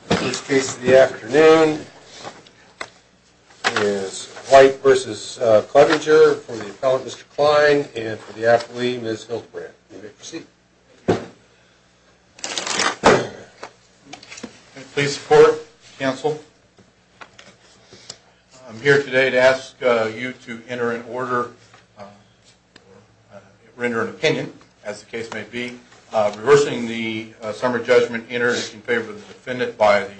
First case of the afternoon is White v. Clevenger for the appellant, Mr. Klein, and for the athlete, Ms. Hildebrand. You may proceed. Please support, counsel. I'm here today to ask you to enter in order, or render an opinion, as the case may be. Reversing the summary judgment, enter in favor of the defendant by the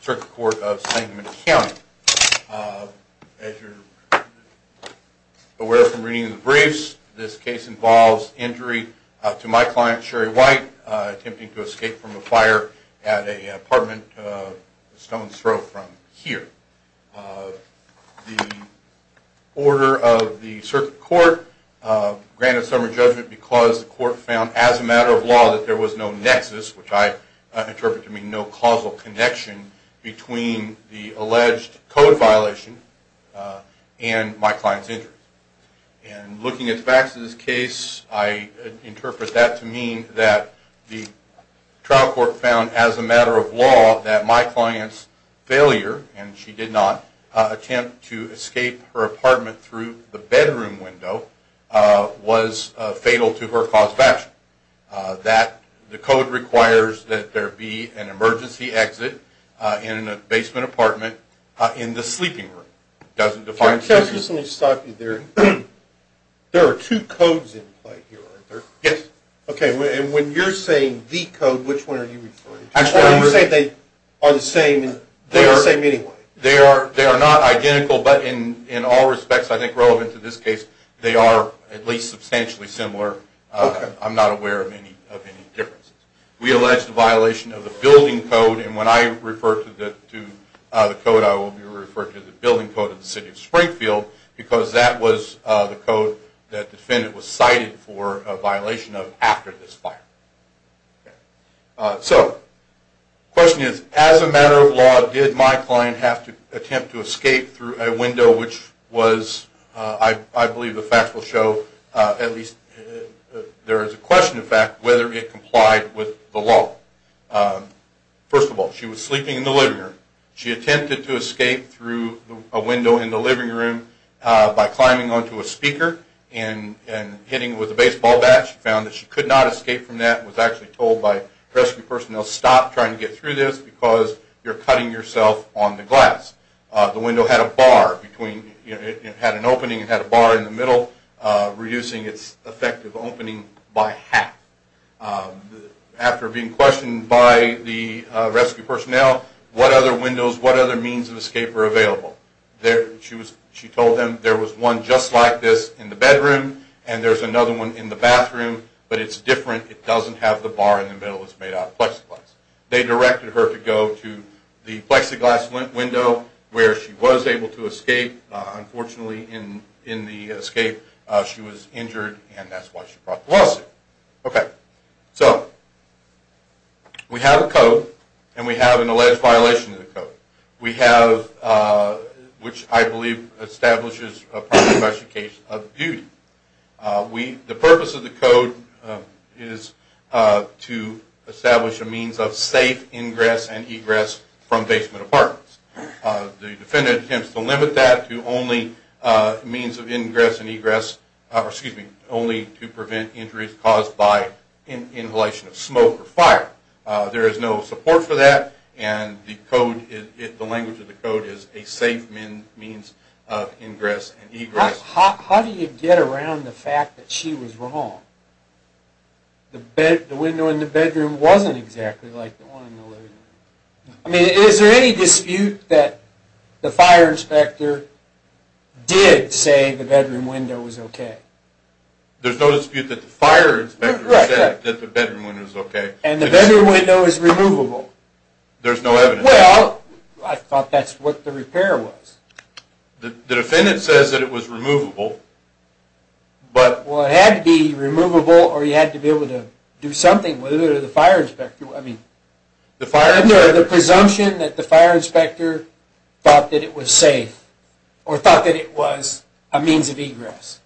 Circuit Court of St. Louis County. As you're aware from reading the briefs, this case involves injury to my client, Sherry White, attempting to escape from a fire at an apartment stone's throw from here. The order of the Circuit Court granted summary judgment because the court found, as a matter of law, that there was no nexus, which I interpret to mean no causal connection, between the alleged code violation and my client's injury. And looking at Vax's case, I interpret that to mean that the trial court found, as a matter of law, that my client's failure, and she did not attempt to escape her apartment through the bedroom window, was fatal to her cause of action. That the code requires that there be an emergency exit in a basement apartment in the sleeping room. Let me just stop you there. There are two codes in play here, aren't there? Yes. Okay, and when you're saying the code, which one are you referring to? You're saying they are the same, they are the same anyway. They are not identical, but in all respects, I think relevant to this case, they are at least substantially similar. I'm not aware of any differences. We allege the violation of the building code, and when I refer to the code, I will be referring to the building code of the City of Springfield, because that was the code that the defendant was cited for a violation of after this fire. So, the question is, as a matter of law, did my client have to attempt to escape through a window which was, I believe the facts will show, at least there is a question of fact, whether it complied with the law. First of all, she was sleeping in the living room. She attempted to escape through a window in the living room by climbing onto a speaker and hitting it with a baseball bat. She found that she could not escape from that and was actually told by rescue personnel, stop trying to get through this because you're cutting yourself on the glass. The window had a bar between, it had an opening, it had a bar in the middle, reducing its effective opening by half. After being questioned by the rescue personnel, what other windows, what other means of escape were available? She told them there was one just like this in the bedroom, and there's another one in the bathroom, but it's different. It doesn't have the bar in the middle, it's made out of plexiglass. They directed her to go to the plexiglass window where she was able to escape. Unfortunately, in the escape, she was injured, and that's why she brought the lawsuit. Okay, so we have a code, and we have an alleged violation of the code. We have, which I believe establishes a proper investigation of the duty. The purpose of the code is to establish a means of safe ingress and egress from basement apartments. The defendant attempts to limit that to only means of ingress and egress, excuse me, only to prevent injuries caused by inhalation of smoke or fire. There is no support for that, and the language of the code is a safe means of ingress and egress. How do you get around the fact that she was wrong? The window in the bedroom wasn't exactly like the one in the living room. I mean, is there any dispute that the fire inspector did say the bedroom window was okay? There's no dispute that the fire inspector said that the bedroom window was okay. And the bedroom window is removable. There's no evidence. Well, I thought that's what the repair was. The defendant says that it was removable. Well, it had to be removable, or you had to be able to do something, whether it was the fire inspector. I mean, the presumption that the fire inspector thought that it was safe, or thought that it was a means of egress.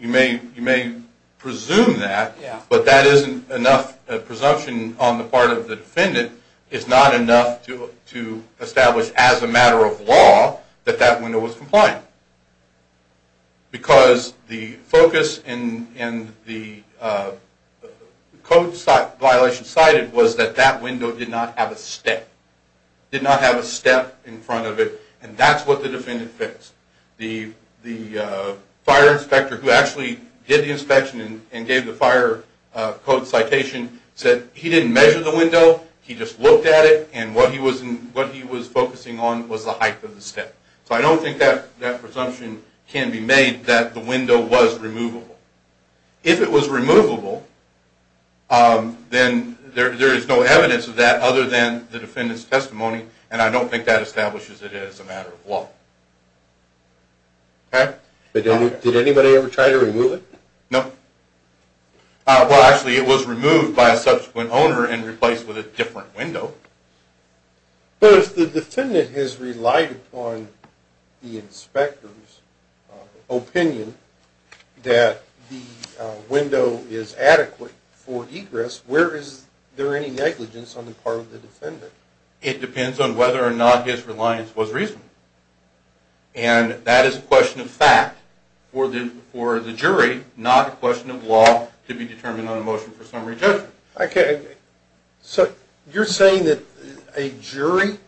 You may presume that, but that isn't enough presumption on the part of the defendant. It's not enough to establish as a matter of law that that window was compliant. Because the focus and the code violation cited was that that window did not have a step. It did not have a step in front of it, and that's what the defendant thinks. The fire inspector who actually did the inspection and gave the fire code citation said he didn't measure the window. He just looked at it, and what he was focusing on was the height of the step. So I don't think that presumption can be made that the window was removable. If it was removable, then there is no evidence of that other than the defendant's testimony, and I don't think that establishes it as a matter of law. Did anybody ever try to remove it? No. Well, actually, it was removed by a subsequent owner and replaced with a different window. But if the defendant has relied upon the inspector's opinion that the window is adequate for egress, where is there any negligence on the part of the defendant? It depends on whether or not his reliance was reasonable, and that is a question of fact for the jury, not a question of law to be determined on a motion for summary judgment. Okay. So you're saying that a jury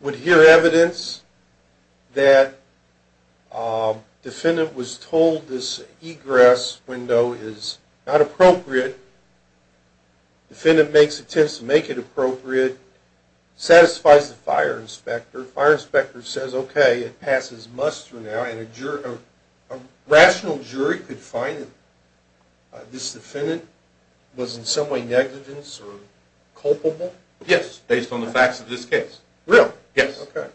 would hear evidence that the defendant was told this egress window is not appropriate, the defendant makes attempts to make it appropriate, satisfies the fire inspector, the fire inspector says, okay, it passes muster now, and a rational jury could find that this defendant was in some way negligent or culpable? Yes, based on the facts of this case. Really? Yes. Okay.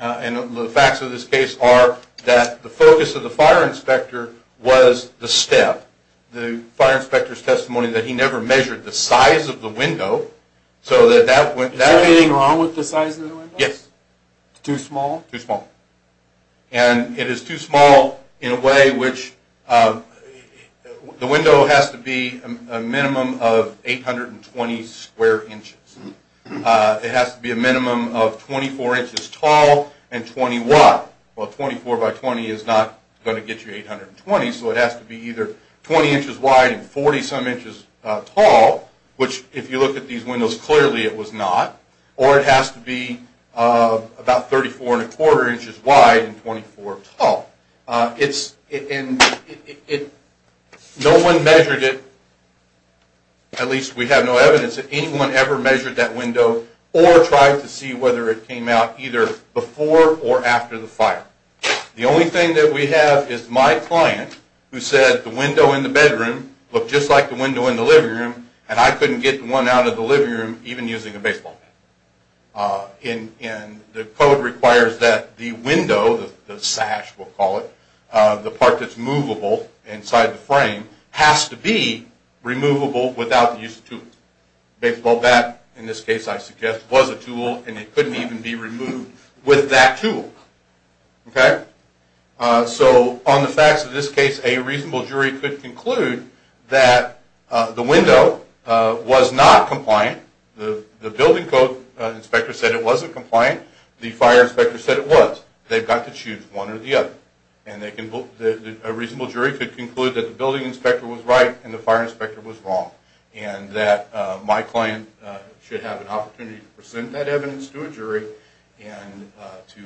And the facts of this case are that the focus of the fire inspector was the step. The fire inspector's testimony that he never measured the size of the window. Is there anything wrong with the size of the window? Yes. Too small? Too small. And it is too small in a way which the window has to be a minimum of 820 square inches. It has to be a minimum of 24 inches tall and 20 wide. Well, 24 by 20 is not going to get you 820, so it has to be either 20 inches wide and 40 some inches tall, which if you look at these windows clearly it was not, or it has to be about 34 and a quarter inches wide and 24 tall. No one measured it, at least we have no evidence that anyone ever measured that window or tried to see whether it came out either before or after the fire. The only thing that we have is my client who said the window in the bedroom looked just like the window in the living room and I couldn't get one out of the living room even using a baseball bat. And the code requires that the window, the sash we'll call it, the part that's movable inside the frame has to be removable without the use of tools. A baseball bat in this case I suggest was a tool and it couldn't even be removed with that tool. So on the facts of this case a reasonable jury could conclude that the window was not compliant. The building code inspector said it wasn't compliant. The fire inspector said it was. They've got to choose one or the other. A reasonable jury could conclude that the building inspector was right and the fire inspector was wrong and that my client should have an opportunity to present that evidence to a jury and to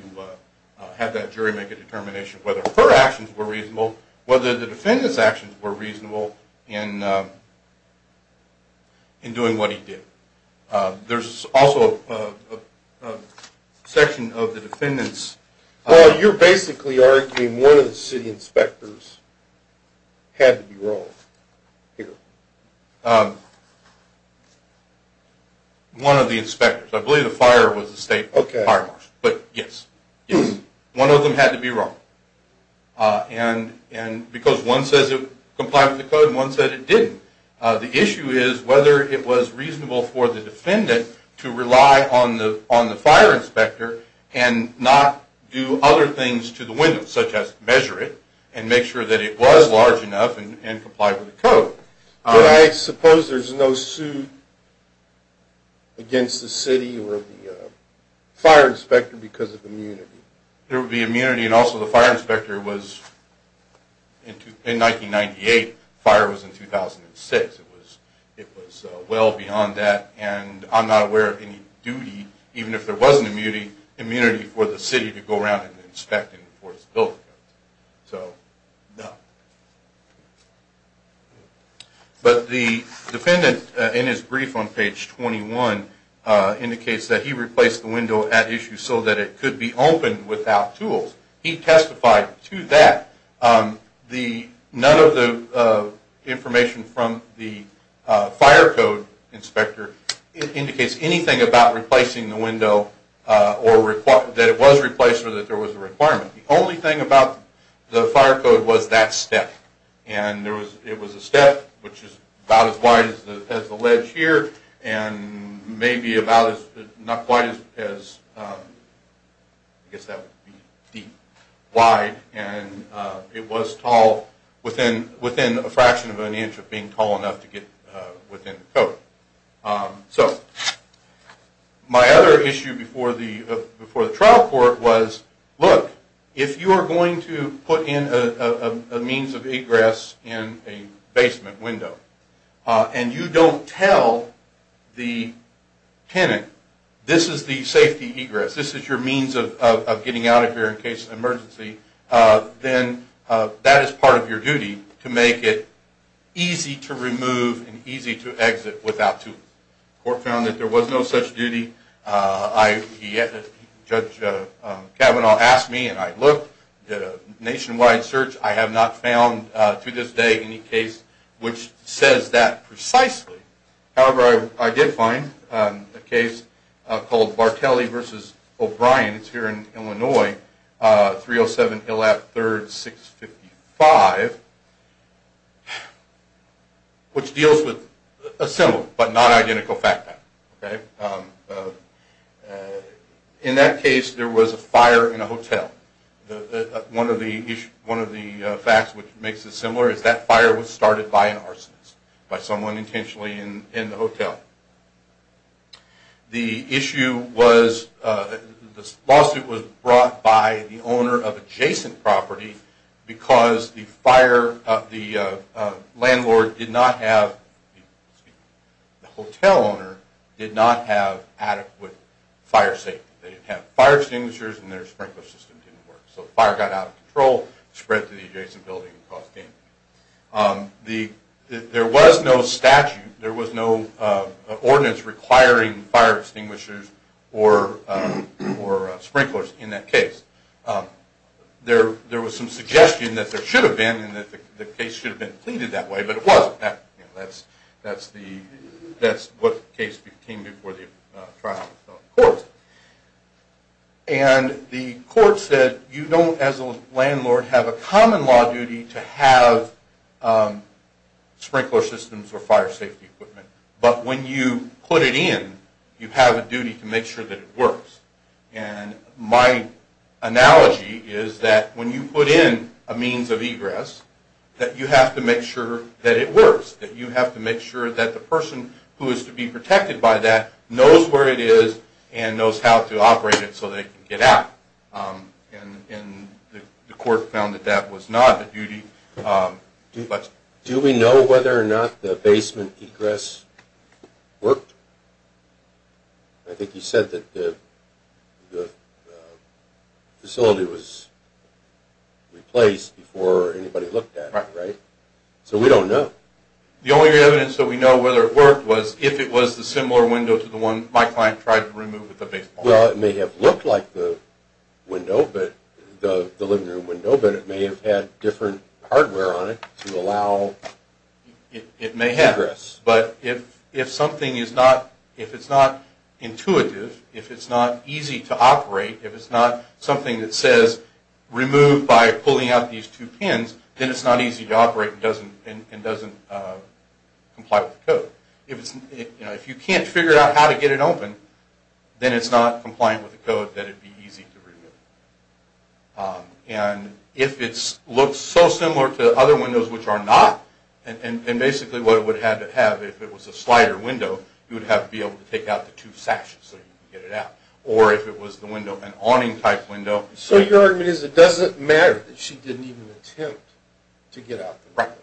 have that jury make a determination whether her actions were reasonable, whether the defendant's actions were reasonable in doing what he did. There's also a section of the defendant's... one of the inspectors. I believe the fire was the state fire marshal. But yes, one of them had to be wrong. And because one says it complied with the code and one said it didn't. The issue is whether it was reasonable for the defendant to rely on the fire inspector and not do other things to the window such as measure it and make sure that it was large enough and complied with the code. I suppose there's no suit against the city or the fire inspector because of immunity. There would be immunity. And also the fire inspector was... In 1998, the fire was in 2006. It was well beyond that. And I'm not aware of any duty, even if there was an immunity, for the city to go around and inspect and enforce the building codes. So, no. But the defendant, in his brief on page 21, indicates that he replaced the window at issue so that it could be opened without tools. He testified to that. None of the information from the fire code inspector indicates anything about replacing the window or that it was replaced or that there was a requirement. The only thing about the fire code was that step. And it was a step which is about as wide as the ledge here and maybe about as... not quite as... I guess that would be deep... wide. And it was tall, within a fraction of an inch of being tall enough to get within the code. So, my other issue before the trial court was, look, if you are going to put in a means of egress in a basement window and you don't tell the tenant, this is the safety egress, this is your means of getting out of here in case of emergency, then that is part of your duty to make it easy to remove and easy to exit without tools. The court found that there was no such duty. Judge Kavanaugh asked me and I looked, did a nationwide search. I have not found, to this day, any case which says that precisely. However, I did find a case called Bartelli v. O'Brien. It's here in Illinois, 307 Hill Ave. 3rd, 655, which deals with a similar but not identical fact pattern. In that case, there was a fire in a hotel. One of the facts which makes it similar is that fire was started by an arsonist, by someone intentionally in the hotel. The issue was, the lawsuit was brought by the owner of adjacent property because the fire, the landlord did not have, the hotel owner did not have adequate fire safety. They didn't have fire extinguishers and their sprinkler system didn't work. So fire got out of control, spread to the adjacent building and caused damage. There was no statute. There was no ordinance requiring fire extinguishers or sprinklers in that case. There was some suggestion that there should have been and that the case should have been pleaded that way, but it wasn't. That's what the case became before the trial of the court. And the court said, you don't, as a landlord, have a common law duty to have sprinkler systems or fire safety equipment. But when you put it in, you have a duty to make sure that it works. And my analogy is that when you put in a means of egress, that you have to make sure that it works, that you have to make sure that the person who is to be protected by that knows where it is and knows how to operate it so they can get out. And the court found that that was not a duty. Do we know whether or not the basement egress worked? I think you said that the facility was replaced before anybody looked at it, right? So we don't know. The only evidence that we know whether it worked was if it was the similar window to the one my client tried to remove at the basement. Well, it may have looked like the window, the living room window, but it may have had different hardware on it to allow egress. It may have. But if something is not intuitive, if it's not easy to operate, if it's not something that says remove by pulling out these two pins, then it's not easy to operate and doesn't comply with the code. If you can't figure out how to get it open, then it's not compliant with the code that it be easy to remove. And if it looks so similar to other windows, which are not, and basically what it would have to have if it was a slider window, you would have to be able to take out the two sashes so you could get it out. Or if it was the window, an awning-type window. So your argument is it doesn't matter that she didn't even attempt to get out the window?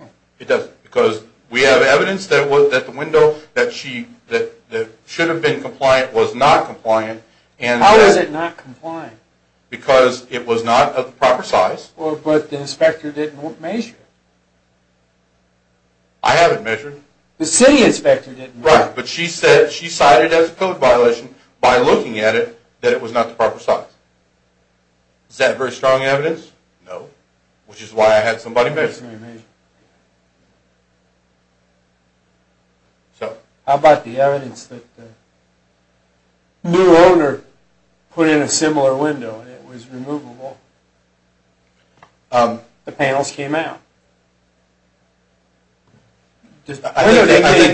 Right. It doesn't. Because we have evidence that the window that should have been compliant was not compliant. How is it not compliant? Because it was not of the proper size. But the inspector didn't measure it. I haven't measured it. The city inspector didn't measure it. Right, but she cited it as a code violation by looking at it that it was not the proper size. Is that very strong evidence? No. Which is why I had somebody measure it. How about the evidence that the new owner put in a similar window and it was removable? The panels came out. I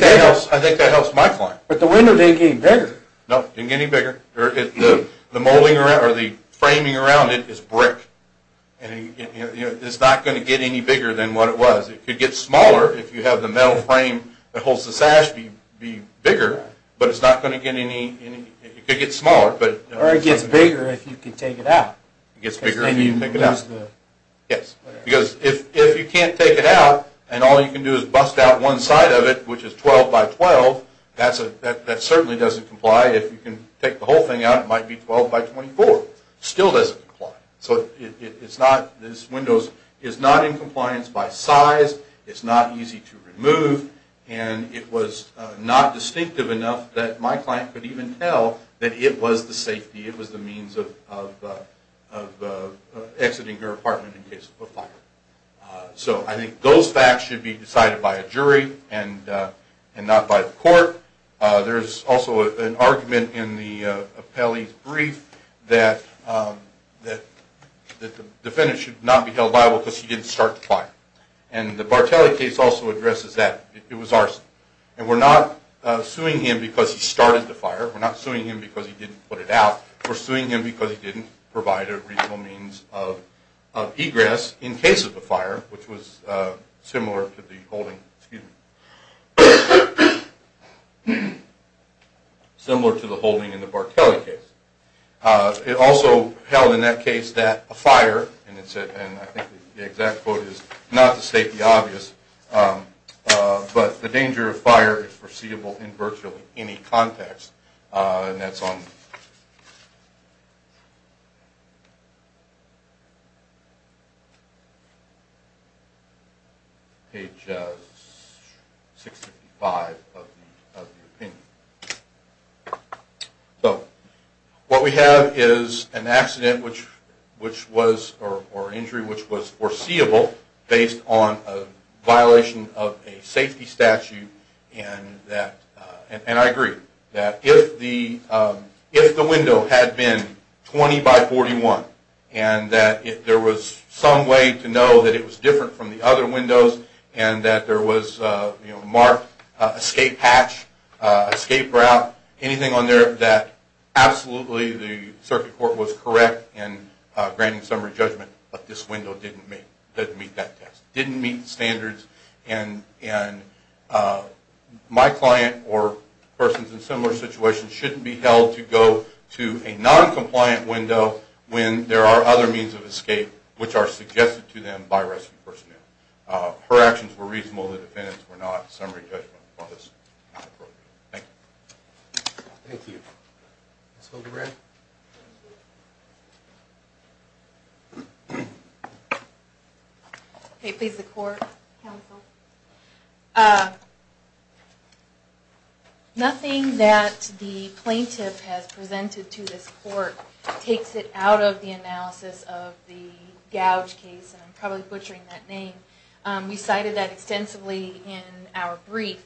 think that helps my point. But the window didn't get any bigger. No, it didn't get any bigger. The framing around it is brick. It's not going to get any bigger than what it was. It could get smaller if you have the metal frame that holds the sash be bigger. But it's not going to get any... It could get smaller. Or it gets bigger if you can take it out. It gets bigger if you can take it out. Yes. Because if you can't take it out, and all you can do is bust out one side of it, which is 12 by 12, that certainly doesn't comply. If you can take the whole thing out, it might be 12 by 24. Still doesn't comply. So this window is not in compliance by size. It's not easy to remove. And it was not distinctive enough that my client could even tell that it was the safety, it was the means of exiting her apartment in case of a fire. So I think those facts should be decided by a jury and not by the court. There's also an argument in the appellee's brief that the defendant should not be held liable because he didn't start the fire. And the Bartelli case also addresses that. It was arson. And we're not suing him because he started the fire. We're not suing him because he didn't put it out. We're suing him because he didn't provide a reasonable means of egress in case of a fire, which was similar to the holding in the Bartelli case. It also held in that case that a fire, and I think the exact quote is not to state the obvious, but the danger of fire is foreseeable in virtually any context. And that's on page 655 of the opinion. So what we have is an accident or injury which was foreseeable based on a violation of a safety statute. And I agree that if the window had been 20 by 41 and that there was some way to know that it was different from the other windows and that there was a marked escape hatch, escape route, anything on there that absolutely the circuit court was correct in granting summary judgment, but this window didn't meet that test, didn't meet the standards. And my client or persons in similar situations shouldn't be held to go to a noncompliant window when there are other means of escape which are suggested to them by rescue personnel. Her actions were reasonable, the defendants were not. Summary judgment was not appropriate. Thank you. Thank you. Ms. Hildebrand? Okay, please, the court, counsel. Nothing that the plaintiff has presented to this court takes it out of the analysis of the Gouge case, and I'm probably butchering that name. We cited that extensively in our brief.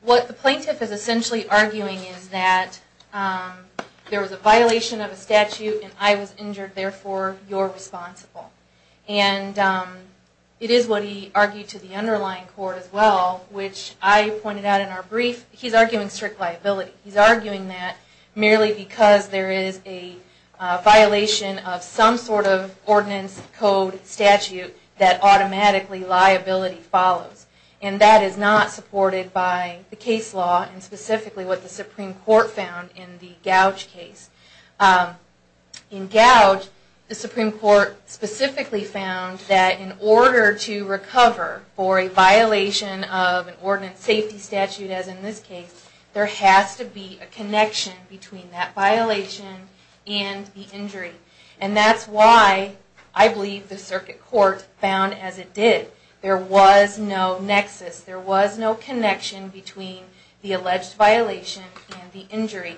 What the plaintiff is essentially arguing is that there was a violation of a statute and I was injured, therefore you're responsible. And it is what he argued to the underlying court as well, which I pointed out in our brief, he's arguing strict liability. He's arguing that merely because there is a violation of some sort of ordinance, code, statute, that automatically liability follows. And that is not supported by the case law and specifically what the Supreme Court found in the Gouge case. In Gouge, the Supreme Court specifically found that in order to recover for a violation of an ordinance, safety statute as in this case, there has to be a connection between that violation and the injury. And that's why I believe the circuit court found as it did, there was no nexus, there was no connection between the alleged violation and the injury.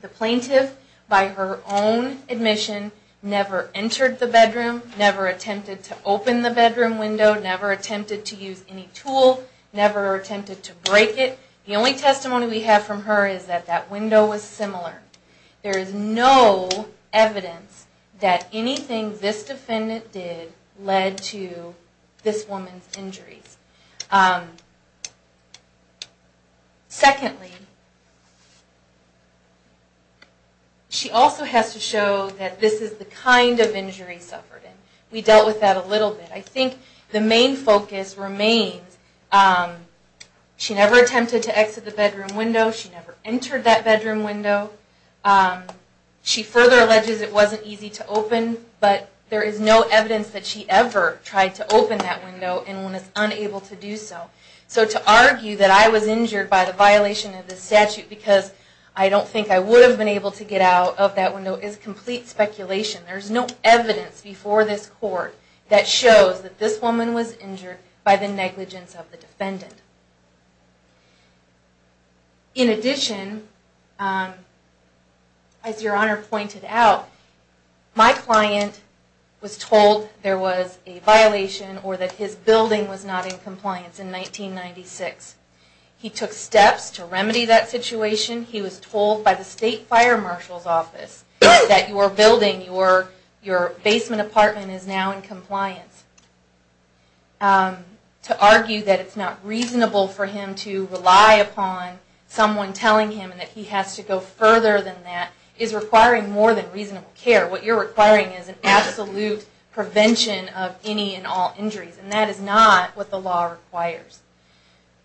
The plaintiff, by her own admission, never entered the bedroom, never attempted to open the bedroom window, never attempted to use any tool, never attempted to break it. The only testimony we have from her is that that window was similar. There is no evidence that anything this defendant did led to this woman's injuries. Secondly, she also has to show that this is the kind of injury she suffered. We dealt with that a little bit. I think the main focus remains, she never attempted to exit the bedroom window, she never entered that bedroom window. She further alleges it wasn't easy to open, but there is no evidence that she ever tried to open that window and was unable to do so. So to argue that I was injured by the violation of the statute because I don't think I would have been able to get out of that window is complete speculation. There is no evidence before this court that shows that this woman was injured by the negligence of the defendant. In addition, as Your Honor pointed out, my client was told there was a violation or that his building was not in compliance in 1996. He took steps to remedy that situation. He was told by the state fire marshal's office that your building, your basement apartment is now in compliance. To argue that it's not reasonable for him to rely upon someone telling him that he has to go further than that is requiring more than reasonable care. What you're requiring is an absolute prevention of any and all injuries. And that is not what the law requires.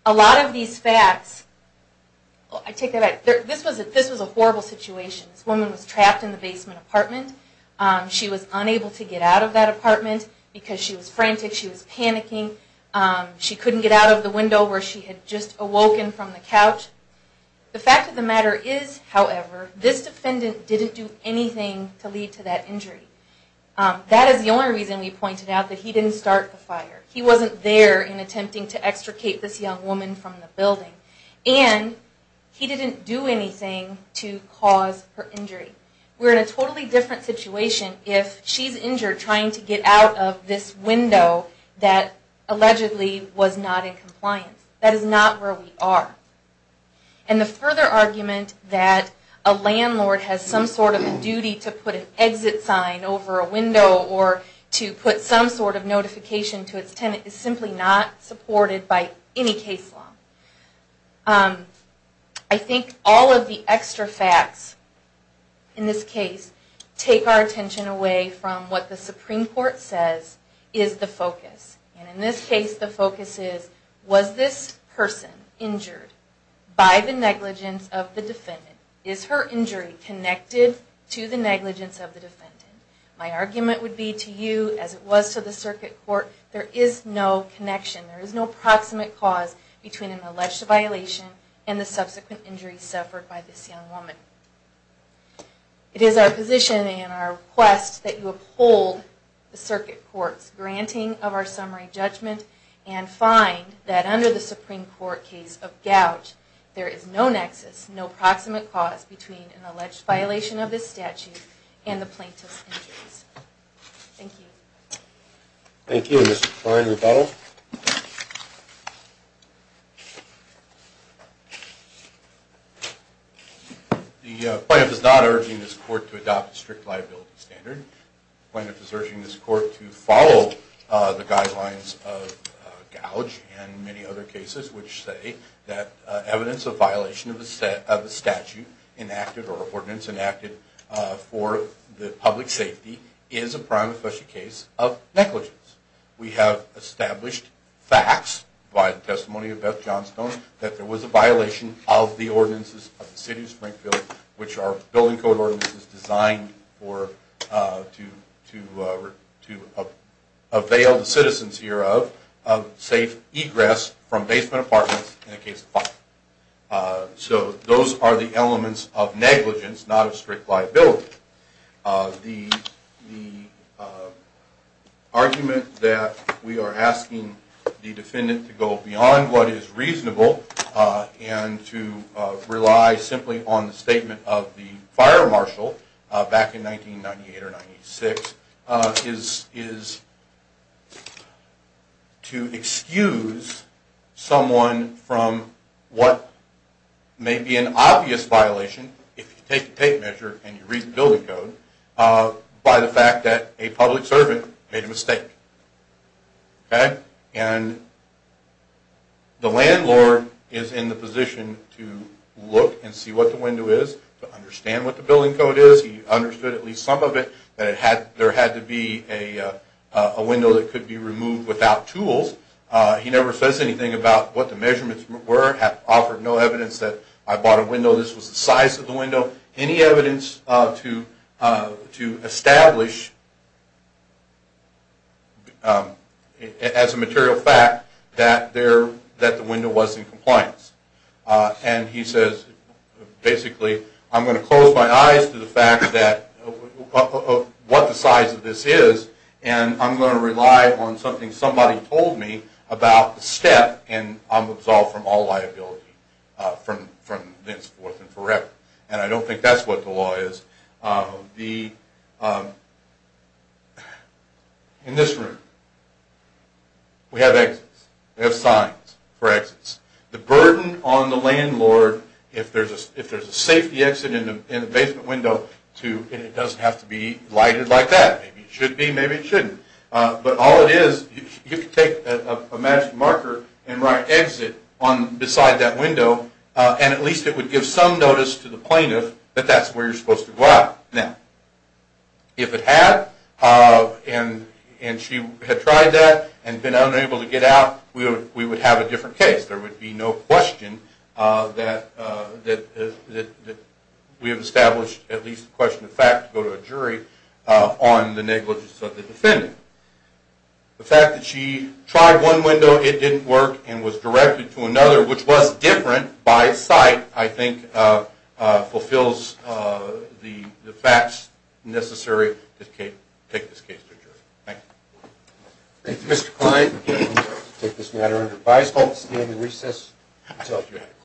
A lot of these facts, I take that back, this was a horrible situation. This woman was trapped in the basement apartment. She was unable to get out of that apartment because she was frantic, she was panicking. She couldn't get out of the window where she had just awoken from the couch. The fact of the matter is, however, this defendant didn't do anything to lead to that injury. That is the only reason we pointed out that he didn't start the fire. He wasn't there in attempting to extricate this young woman from the building. And he didn't do anything to cause her injury. We're in a totally different situation if she's injured trying to get out of this window that allegedly was not in compliance. That is not where we are. And the further argument that a landlord has some sort of a duty to put an exit sign over a window or to put some sort of notification to its tenant is simply not supported by any case law. I think all of the extra facts in this case take our attention away from what the Supreme Court says is the focus. And in this case the focus is, was this person injured by the negligence of the defendant? Is her injury connected to the negligence of the defendant? My argument would be to you, as it was to the circuit court, there is no connection. There is no proximate cause between an alleged violation and the subsequent injury suffered by this young woman. It is our position and our request that you uphold the circuit court's granting of our summary judgment and find that under the Supreme Court case of gouge there is no nexus, no proximate cause between an alleged violation of this statute and the plaintiff's injuries. Thank you. Thank you. Mr. Klein, rebuttal. The plaintiff is not urging this court to adopt a strict liability standard. The plaintiff is urging this court to follow the guidelines of gouge and many other cases which say that evidence of violation of a statute enacted or an ordinance enacted for the public safety is a prime official case of negligence. We have established facts by the testimony of Beth Johnstone that there was a violation of the ordinances of the city of Springfield which are building code ordinances designed to avail the citizens hereof of safe egress from basement apartments in a case of violence. So those are the elements of negligence, not a strict liability. The argument that we are asking the defendant to go beyond what is reasonable and to rely simply on the statement of the fire marshal back in 1998 or 96 is to excuse someone from what may be an obvious violation if you take a tape measure and you read the building code by the fact that a public servant made a mistake. And the landlord is in the position to look and see what the window is, to understand what the building code is. He understood at least some of it that there had to be a window that could be removed without tools. He never says anything about what the measurements were, offered no evidence that I bought a window, this was the size of the window, any evidence to establish as a material fact that the window was in compliance. And he says basically I'm going to close my eyes to the fact of what the size of this is and I'm going to rely on something somebody told me about the step and I'm absolved from all liability from thenceforth and forever. And I don't think that's what the law is. In this room we have exits, we have signs for exits. The burden on the landlord if there's a safety exit in the basement window and it doesn't have to be lighted like that, maybe it should be, maybe it shouldn't, but all it is, you can take a magic marker and write exit beside that window and at least it would give some notice to the plaintiff that that's where you're supposed to go out. Now, if it had and she had tried that and been unable to get out, we would have a different case. There would be no question that we have established at least a question of fact to go to a jury on the negligence of the defendant. The fact that she tried one window, it didn't work, and was directed to another, which was different by its site, I think fulfills the facts necessary to take this case to a jury. Thank you. Thank you, Mr. Klein. We'll take this matter under advice.